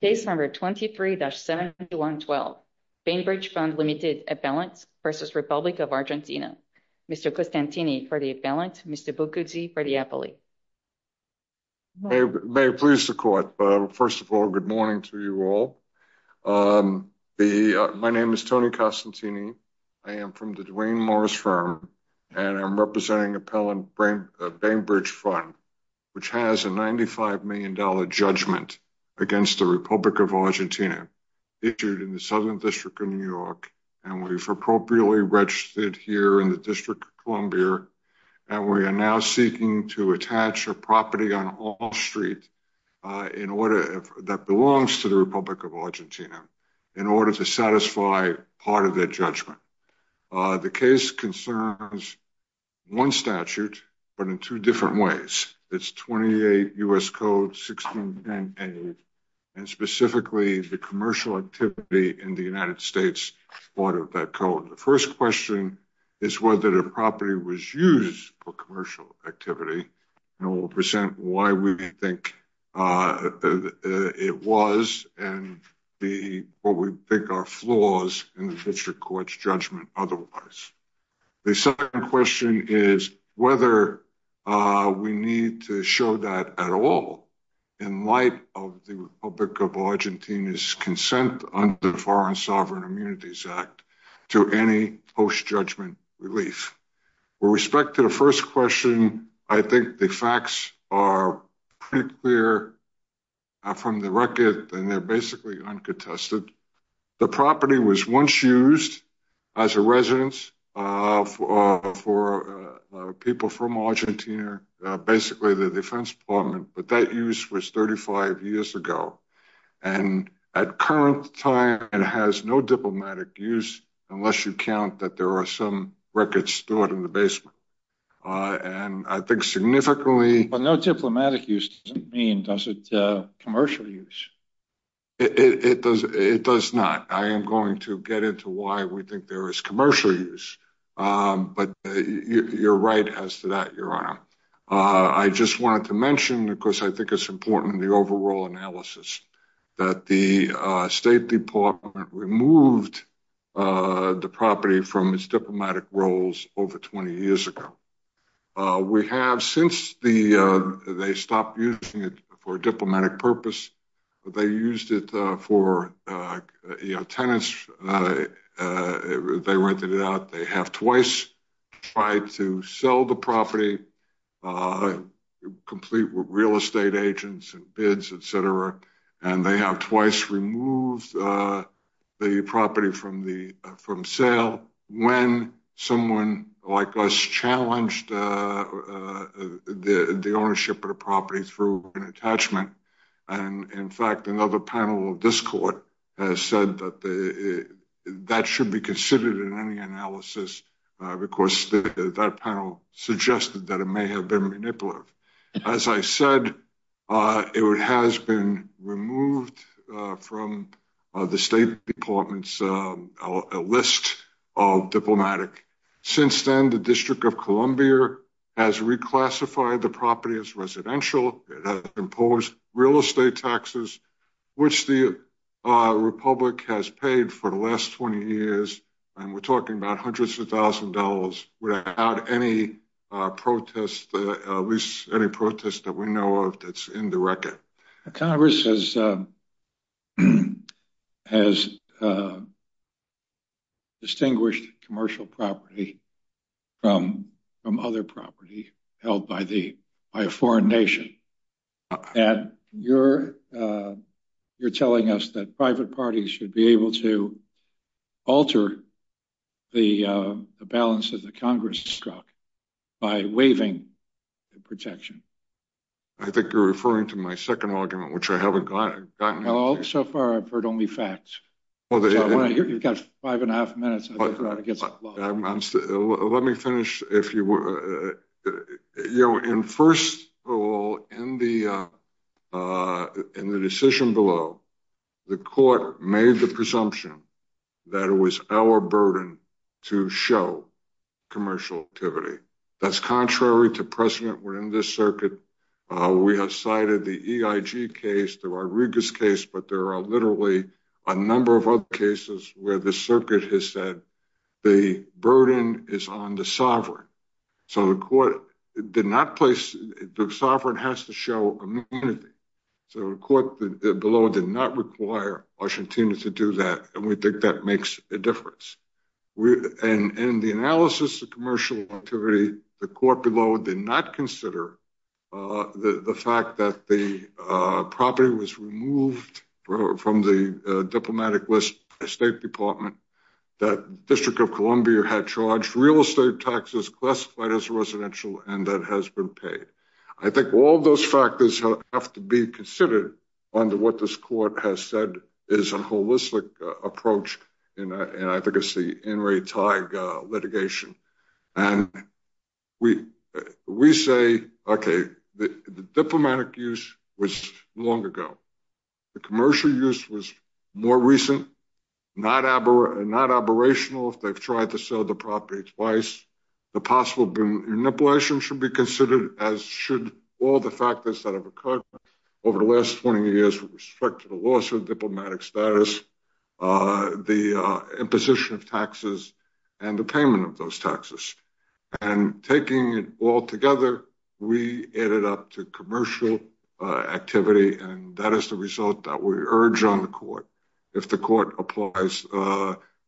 Case number 23-72112, Bainbridge Fund Ltd. Appellant v. Republic of Argentina. Mr. Costantini for the appellant, Mr. Bucuzzi for the appellate. May it please the court, first of all, good morning to you all. My name is Tony Costantini. I am from the Duane Morris firm and I'm representing Appellant Bainbridge Fund, which has a $95 million judgment against the Republic of Argentina issued in the Southern District of New York. And we've appropriately registered here in the District of Columbia. And we are now seeking to attach a property on Hall Street in order, that belongs to the Republic of Argentina, in order to satisfy part of that judgment. The case concerns one statute, but in two different ways. It's 28 U.S. Code 1610A, and specifically the commercial activity in the United States part of that code. The first question is whether the property was used for commercial activity. And we'll present why we think it was and what we think are flaws in the district court's judgment otherwise. The second question is whether we need to show that at all in light of the Republic of Argentina's consent under Foreign Sovereign Immunities Act to any post-judgment relief. With respect to the first question, I think the facts are pretty clear from the record and they're basically uncontested. The property was once used as a residence for people from Argentina, basically the Defense Department, but that use was 35 years ago. And at current time, it has no diplomatic use unless you count that there are some records stored in the basement. And I think significantly... But no diplomatic use doesn't mean, does it, commercial use? It does not. I am going to get into why we think there is commercial use, but you're right as to that, Your Honor. I just wanted to mention, because I think it's important in the overall analysis, that the State Department removed the property from its diplomatic roles over 20 years ago. Since they stopped using it for diplomatic purpose, they used it for tenants. They rented it out. They have twice tried to sell the property, complete with real estate agents and bids, etc. And they have twice removed the property from sale when someone like us challenged the ownership of the property through an attachment. And in fact, another panel of this Court has said that that should be considered in any analysis because that panel suggested that it may have been manipulative. As I said, it has been removed from the State Department's list of diplomatic. Since then, the District of Columbia has reclassified the property as residential. It has imposed real estate taxes, which the Republic has paid for the last 20 years. And we're talking about hundreds of thousands of dollars without any protest, at least any protest that we know of that's in the record. Congress has distinguished commercial property from other property held by a foreign nation. And you're telling us that private parties should be able to alter the balance that the Congress struck by waiving the protection. I think you're referring to my second argument, which I haven't gotten. So far, I've heard only facts. You've got five and a half minutes. Well, let me finish. First of all, in the decision below, the Court made the presumption that it was our burden to show commercial activity. That's contrary to precedent within this circuit. We have cited the EIG case, the Rodriguez case, but there are literally a number of other cases where the circuit has said the burden is on the sovereign. So the court did not place—the sovereign has to show immunity. So the court below did not require Argentina to do that, and we think that makes a difference. And in the analysis of commercial activity, the court below did not consider the fact that the diplomatic list, the State Department, the District of Columbia had charged real estate taxes classified as residential, and that has been paid. I think all those factors have to be considered under what this court has said is a holistic approach, and I think it's the more recent, not aberrational if they've tried to sell the property twice. The possible manipulation should be considered, as should all the factors that have occurred over the last 20 years with respect to the loss of diplomatic status, the imposition of taxes, and the payment of those taxes. And taking it all together, we added up to commercial activity, and that is the result that we urge on the court if the court applies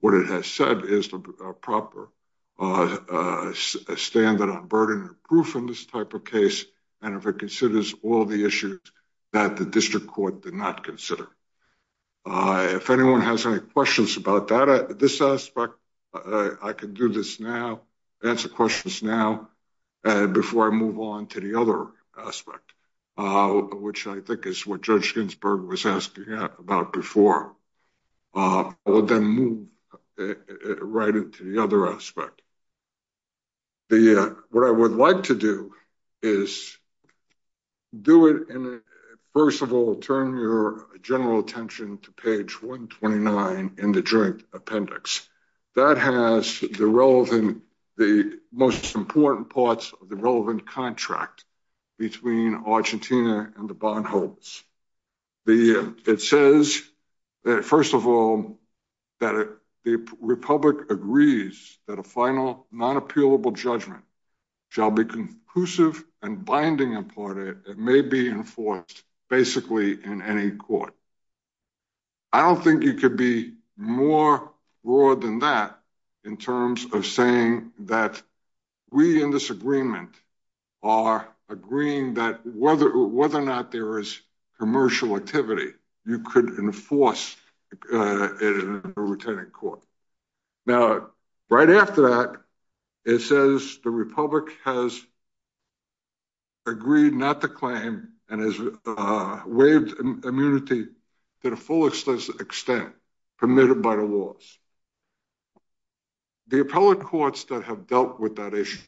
what it has said is the proper standard on burden or proof in this type of case, and if it considers all the issues that the district court did not consider. If anyone has any questions about this aspect, I can do this now, answer questions now, before I move on to the other aspect, which I think is what Judge Ginsburg was asking about before. I will then move right into the other aspect. What I would like to do is do it, and first of all, turn your general attention to page 129 in the Joint Appendix. That has the relevant, the most important parts of the relevant contract between Argentina and the bondholders. It says that, first of all, that the Republic agrees that a final non-appealable judgment shall be conclusive and binding upon it, and may be enforced basically in any court. I don't think you could be more raw than that in terms of saying that we in this agreement are agreeing that whether or not there is commercial activity, you could enforce it in a retaining court. Now, right after that, it says the Republic has a full extent permitted by the laws. The appellate courts that have dealt with that issue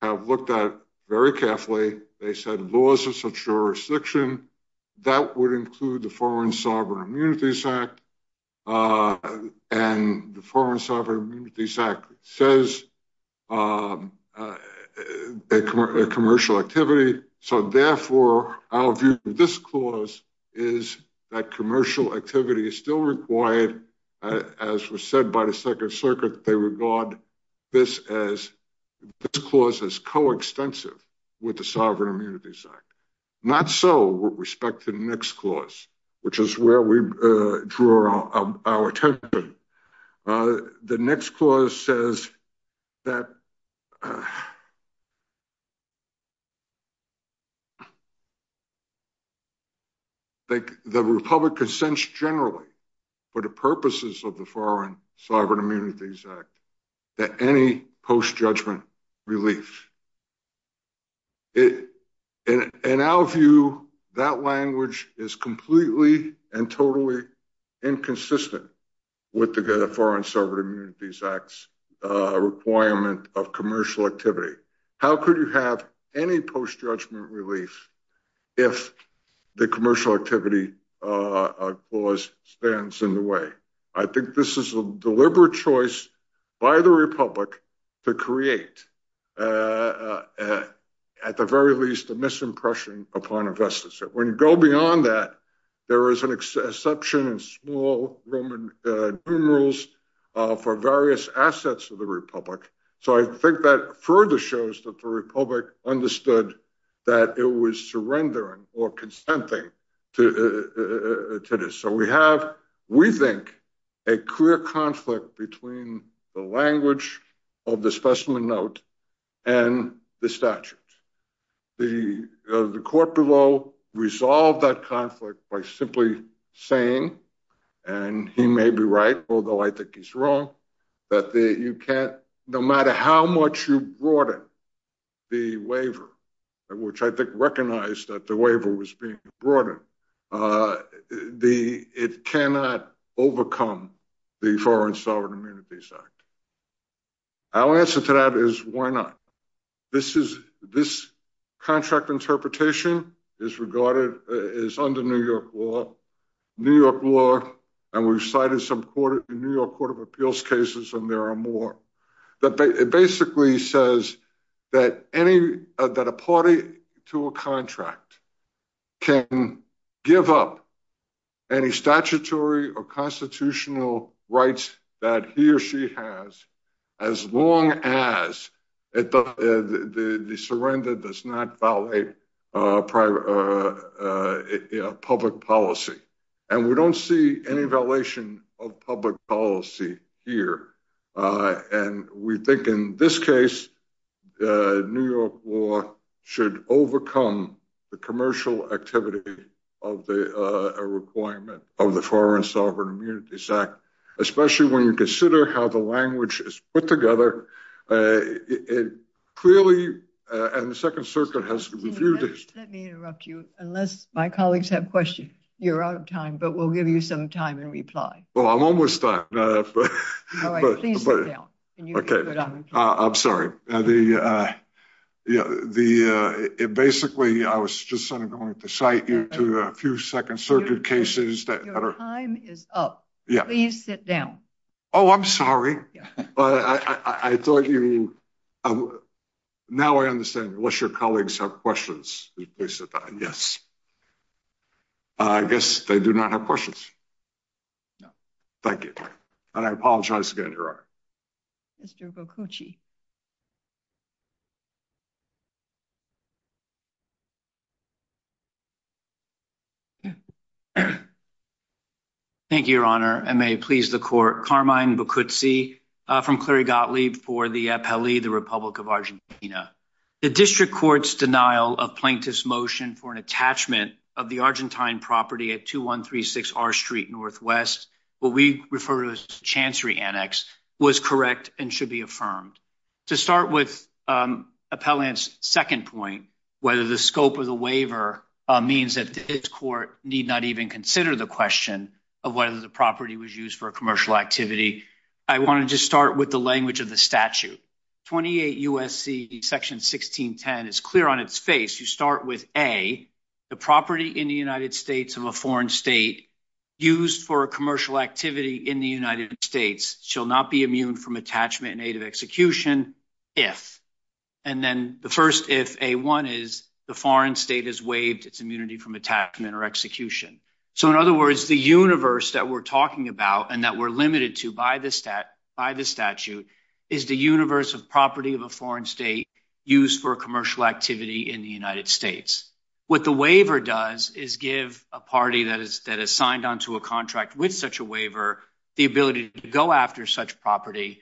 have looked at it very carefully. They said laws of such jurisdiction, that would include the Foreign Sovereign Immunities Act, and the Foreign Sovereign Immunities Act says a commercial activity. Therefore, our view of this clause is that commercial activity is still required. As was said by the Second Circuit, they regard this clause as coextensive with the Sovereign Immunities Act. Not so with respect to the next clause, which is where we draw our attention. The next clause says that the Republic consents generally, for the purposes of the Foreign Sovereign Immunities Act, that any post-judgment relief. In our view, that language is completely and totally inconsistent with the Foreign Sovereign Immunities Act's requirement of commercial activity. How could you have any post-judgment relief if the commercial activity clause stands in the way? I think this is a deliberate choice by the Republic to create, at the very least, a misimpression upon investors. When you go beyond that, there is an exception in small Roman numerals for various assets of the Republic. I think that further shows that the Republic understood that it was surrendering or consenting to this. We have, we think, a clear conflict between the language of the specimen note and the statute. The court below resolved that conflict by simply saying, and he may be right, although I think he's wrong, that no matter how much you broaden the waiver, which I think recognized that the waiver was being broadened, it cannot overcome the Foreign Sovereign Immunities Act. Our answer to that is, why not? This contract interpretation is under New York law, and we've cited some New York Court of Appeals cases, and there are more. It basically says that a party to a contract can give up any statutory or constitutional rights that he or she has, as long as the surrender does not violate public policy. And we don't see any violation of public policy here. And we think in this case, New York law should overcome the commercial activity of the requirement of the Foreign Sovereign Immunities Act, especially when you consider how the language is put together. It clearly, and the Second Circuit has reviewed it. Let me interrupt you. Unless my colleagues have questions, you're out of time, but we'll give you some time in reply. Well, I'm almost done. All right, please sit down. Okay. I'm sorry. Basically, I was just going to cite you to a few Second Circuit cases. Your time is up. Please sit down. Oh, I'm sorry. Now I understand, unless your colleagues have questions, please sit down. Yes. I guess they do not have questions. No. Thank you. And I apologize again, Your Honor. Mr. Boccucci. Thank you, Your Honor, and may it please the Court. Carmine Boccucci from Clerigotli for the Apelli, the Republic of Argentina. The district court's denial of plaintiff's motion for an attachment of the Argentine property at 2136 R Street NW, what we refer to as a chancery annex, was correct and should be affirmed. To start with Appellant's second point, whether the scope of the waiver means that the district court need not even consider the question of whether the property was used for a commercial activity, I wanted to start with the language of the statute. 28 U.S.C. Section 1610 is clear on its face. You start with A, the property in the United States of a foreign state used for a commercial activity in the United States shall not be immune from attachment in aid of execution, if. And then the first if, A1, is the foreign state has waived its immunity from attachment or execution. So, in other words, the universe that we're talking about and that we're limited to by the statute is the universe of property of a foreign state used for a commercial activity in the United States. What the waiver does is give a party that is signed on to a contract with such a waiver the ability to go after such property.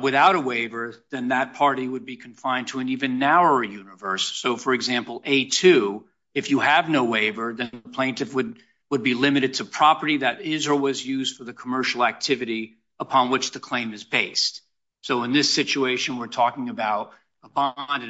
Without a waiver, then that party would be confined to an even narrower universe. So, for example, A2, if you have no waiver, then the plaintiff would be limited to property that is or was used for the commercial activity upon which the claim is based. So, in this situation, we're talking about a bond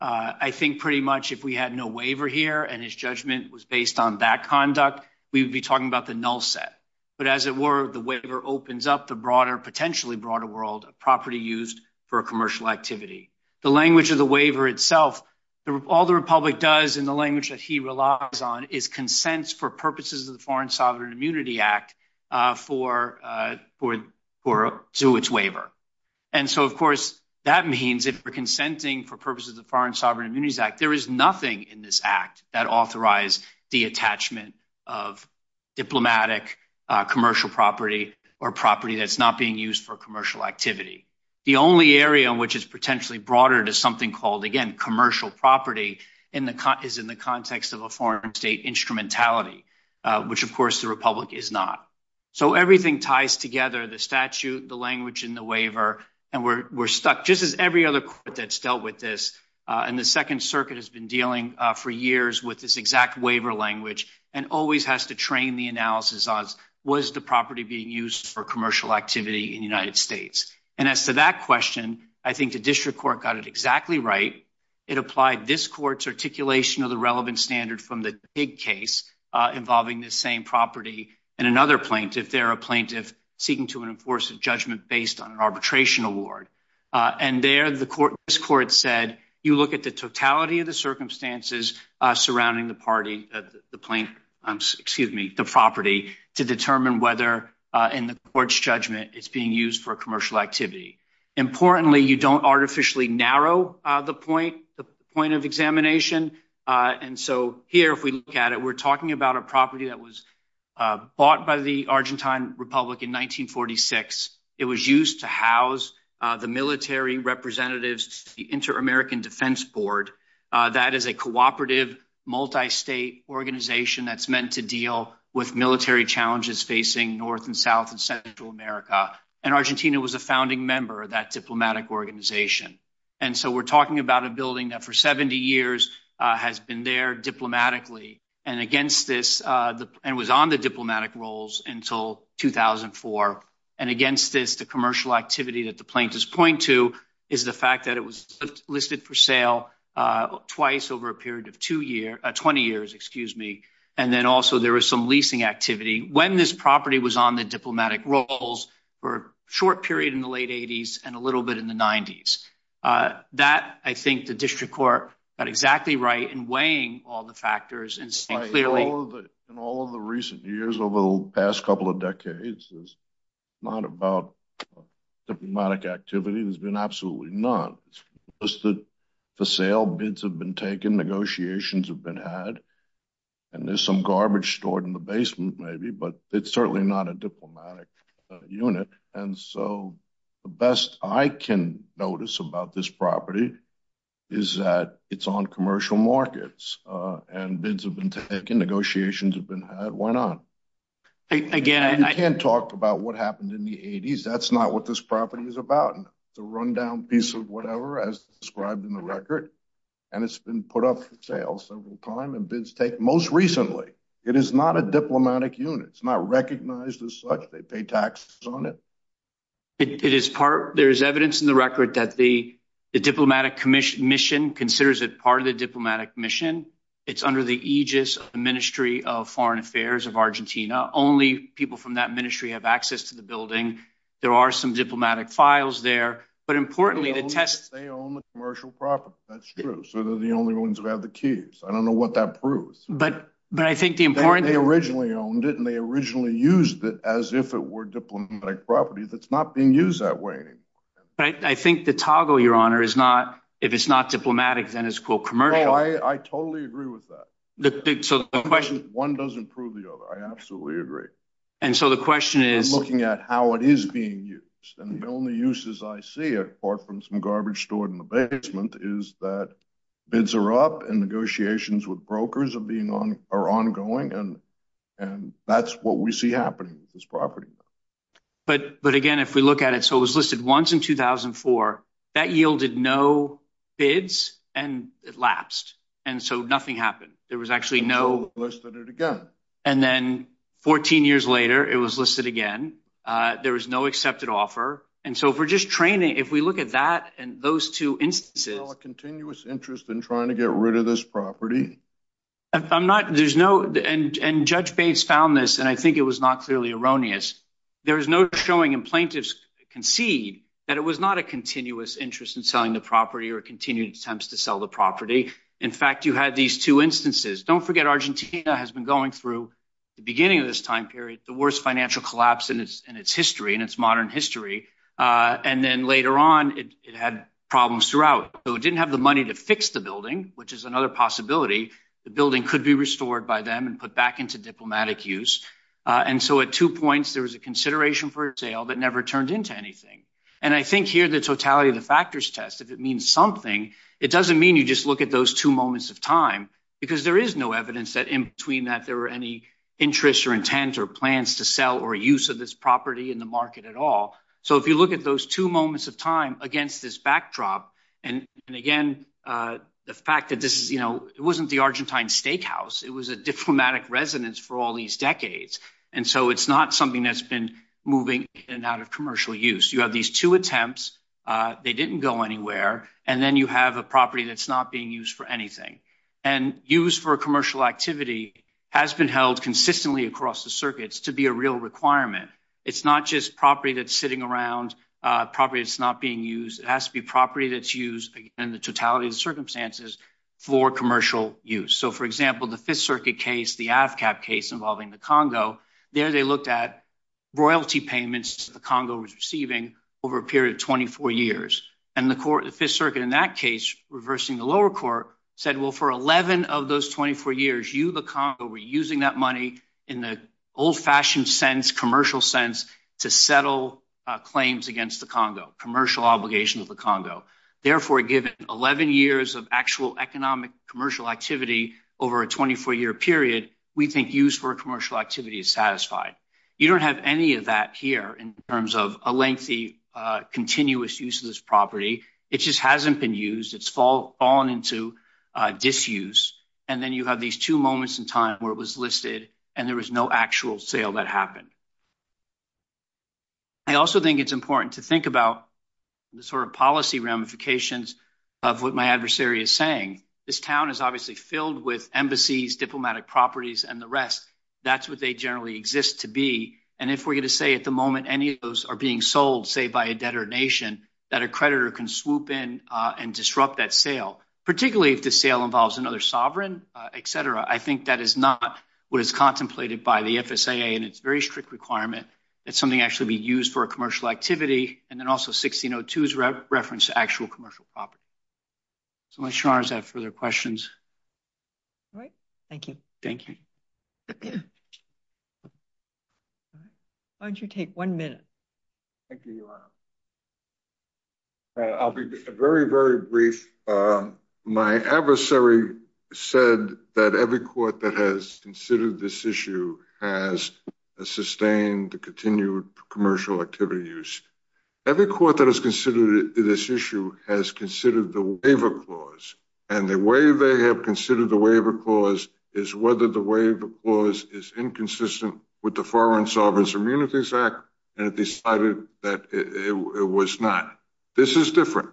and pretty much if we had no waiver here and his judgment was based on that conduct, we would be talking about the null set. But as it were, the waiver opens up the broader, potentially broader world of property used for a commercial activity. The language of the waiver itself, all the Republic does in the language that he relies on is consents for purposes of the Foreign Sovereign Immunity Act to its waiver. And so, of course, that means if we're consenting for purposes of Foreign Sovereign Immunity Act, there is nothing in this act that authorize the attachment of diplomatic commercial property or property that's not being used for commercial activity. The only area which is potentially broader to something called, again, commercial property is in the context of a foreign state instrumentality, which, of course, the Republic is not. So, everything ties together, the statute, the language in the waiver, and we're stuck just as every other court that's dealt with this. And the Second Circuit has been dealing for years with this exact waiver language and always has to train the analysis on, was the property being used for commercial activity in the United States? And as to that question, I think the District Court got it exactly right. It applied this court's articulation of the relevant standard from the Pig case involving this same property and another plaintiff, they're a plaintiff seeking to enforce a judgment based on an arbitration award. And there, this court said, you look at the totality of the circumstances surrounding the property to determine whether in the court's judgment it's being used for commercial activity. Importantly, you don't artificially narrow the point of examination. And so, here, if we look at it, we're talking about a property that was it was used to house the military representatives to the Inter-American Defense Board. That is a cooperative, multi-state organization that's meant to deal with military challenges facing North and South and Central America. And Argentina was a founding member of that diplomatic organization. And so, we're talking about a building that for 70 years has been there diplomatically and against this, and was on the diplomatic rolls until 2004. And against this, the commercial activity that the plaintiffs point to is the fact that it was listed for sale twice over a period of two years, 20 years, excuse me. And then also there was some leasing activity when this property was on the diplomatic rolls for a short period in the late 80s and a little bit in the 90s. That, I think, the district court got exactly right in weighing all the factors. In all of the recent years, over the past couple of decades, it's not about diplomatic activity. There's been absolutely none. It's listed for sale. Bids have been taken. Negotiations have been had. And there's some garbage stored in the basement, maybe. But it's certainly not a diplomatic unit. And so, the best I can notice about this property is that it's on commercial markets. And bids have been taken. Negotiations have been had. Why not? Again, I can't talk about what happened in the 80s. That's not what this property is about. It's a rundown piece of whatever as described in the record. And it's been put up for sale several times. And bids take most recently. It is not a diplomatic unit. It's not recognized as such. They pay taxes on it. There's evidence in the record that the diplomatic commission considers it part of the diplomatic mission. It's under the aegis of the Ministry of Foreign Affairs of Argentina. Only people from that ministry have access to the building. There are some diplomatic files there. But importantly, the test— They own the commercial property. That's true. So, they're the only ones who have the keys. I don't know what that proves. But I think the important— If it were diplomatic property, that's not being used that way anymore. But I think the toggle, Your Honor, is not— If it's not diplomatic, then it's, quote, commercial. I totally agree with that. One doesn't prove the other. I absolutely agree. And so, the question is— I'm looking at how it is being used. And the only uses I see, apart from some garbage stored in the basement, is that bids are up and negotiations with brokers are ongoing. And that's what we see happening with this property. But, again, if we look at it— So, it was listed once in 2004. That yielded no bids, and it lapsed. And so, nothing happened. There was actually no— And so, they listed it again. And then, 14 years later, it was listed again. There was no accepted offer. And so, if we're just training— If we look at that and those two instances— There's still a continuous interest in trying to get rid of this property. I'm not— There's no— And Judge Bates found this, and I think it was not clearly erroneous. There is no showing, and plaintiffs concede, that it was not a continuous interest in selling the property or continued attempts to sell the property. In fact, you had these two instances. Don't forget, Argentina has been going through, at the beginning of this time period, the worst financial collapse in its history, in its modern history. And then, later on, it had problems throughout. So, it didn't have the money to fix the building, which is another possibility. The building could be restored by them and put back into diplomatic use. And so, at two points, there was a consideration for a sale that never turned into anything. And I think, here, the totality of the factors test, if it means something, it doesn't mean you just look at those two moments of time, because there is no evidence that, in between that, there were any interests or intent or plans to sell or use of this property in the market at all. So, if you look at those two moments of time against this backdrop, and again, the fact that this is, you know, it wasn't the Argentine steakhouse. It was a diplomatic residence for all these decades. And so, it's not something that's been moving in and out of commercial use. You have these two attempts. They didn't go anywhere. And then, you have a property that's not being used for anything. And use for a commercial activity has been held consistently across the circuits to be a real requirement. It's not just property that's sitting around, property that's not being used. It has to be property that's used in the totality of the circumstances for commercial use. So, for example, the Fifth Circuit case, the AFCAP case involving the Congo, there, they looked at royalty payments the Congo was receiving over a period of 24 years. And the court, the Fifth Circuit, in that case, reversing the lower court, said, well, for 11 of those 24 years, you, the Congo, were using that money in the old-fashioned sense, commercial sense, to settle claims against the Congo, commercial obligations of the Congo. Therefore, given 11 years of actual economic commercial activity over a 24-year period, we think use for a commercial activity is satisfied. You don't have any of that here in terms of a lengthy, continuous use of this property. It just hasn't been used. It's fallen into disuse. And then you have these two moments in time where it was listed and there was no actual sale that happened. I also think it's important to think about the sort of policy ramifications of what my adversary is saying. This town is obviously filled with embassies, diplomatic properties, and the rest. That's what they generally exist to be. And if we're going to say at the moment any of those are being sold, say, by a debtor nation, that a creditor can swoop in and disrupt that sale, particularly if the sale involves another sovereign, et cetera, I think that is not what is contemplated by the FSAA in its very strict requirement that something actually be used for a commercial activity, and then also 1602's reference to actual commercial property. So I'm not sure I have further questions. All right. Thank you. Thank you. Why don't you take one minute? Thank you, Your Honor. I'll be very, very brief. My adversary said that every court that has considered this issue has sustained the continued commercial activity use. Every court that has considered this issue has considered the waiver clause. And the way they have considered the waiver clause is whether the waiver clause is inconsistent with the Foreign Sovereign Immunities Act, and it decided that it was not. This is different.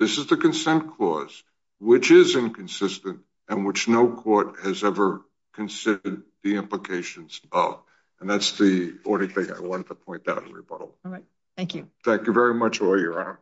This is the consent clause, which is inconsistent, and which no court has ever considered the implications of. And that's the only thing I wanted to point out in rebuttal. All right. Thank you. Thank you very much, Your Honor.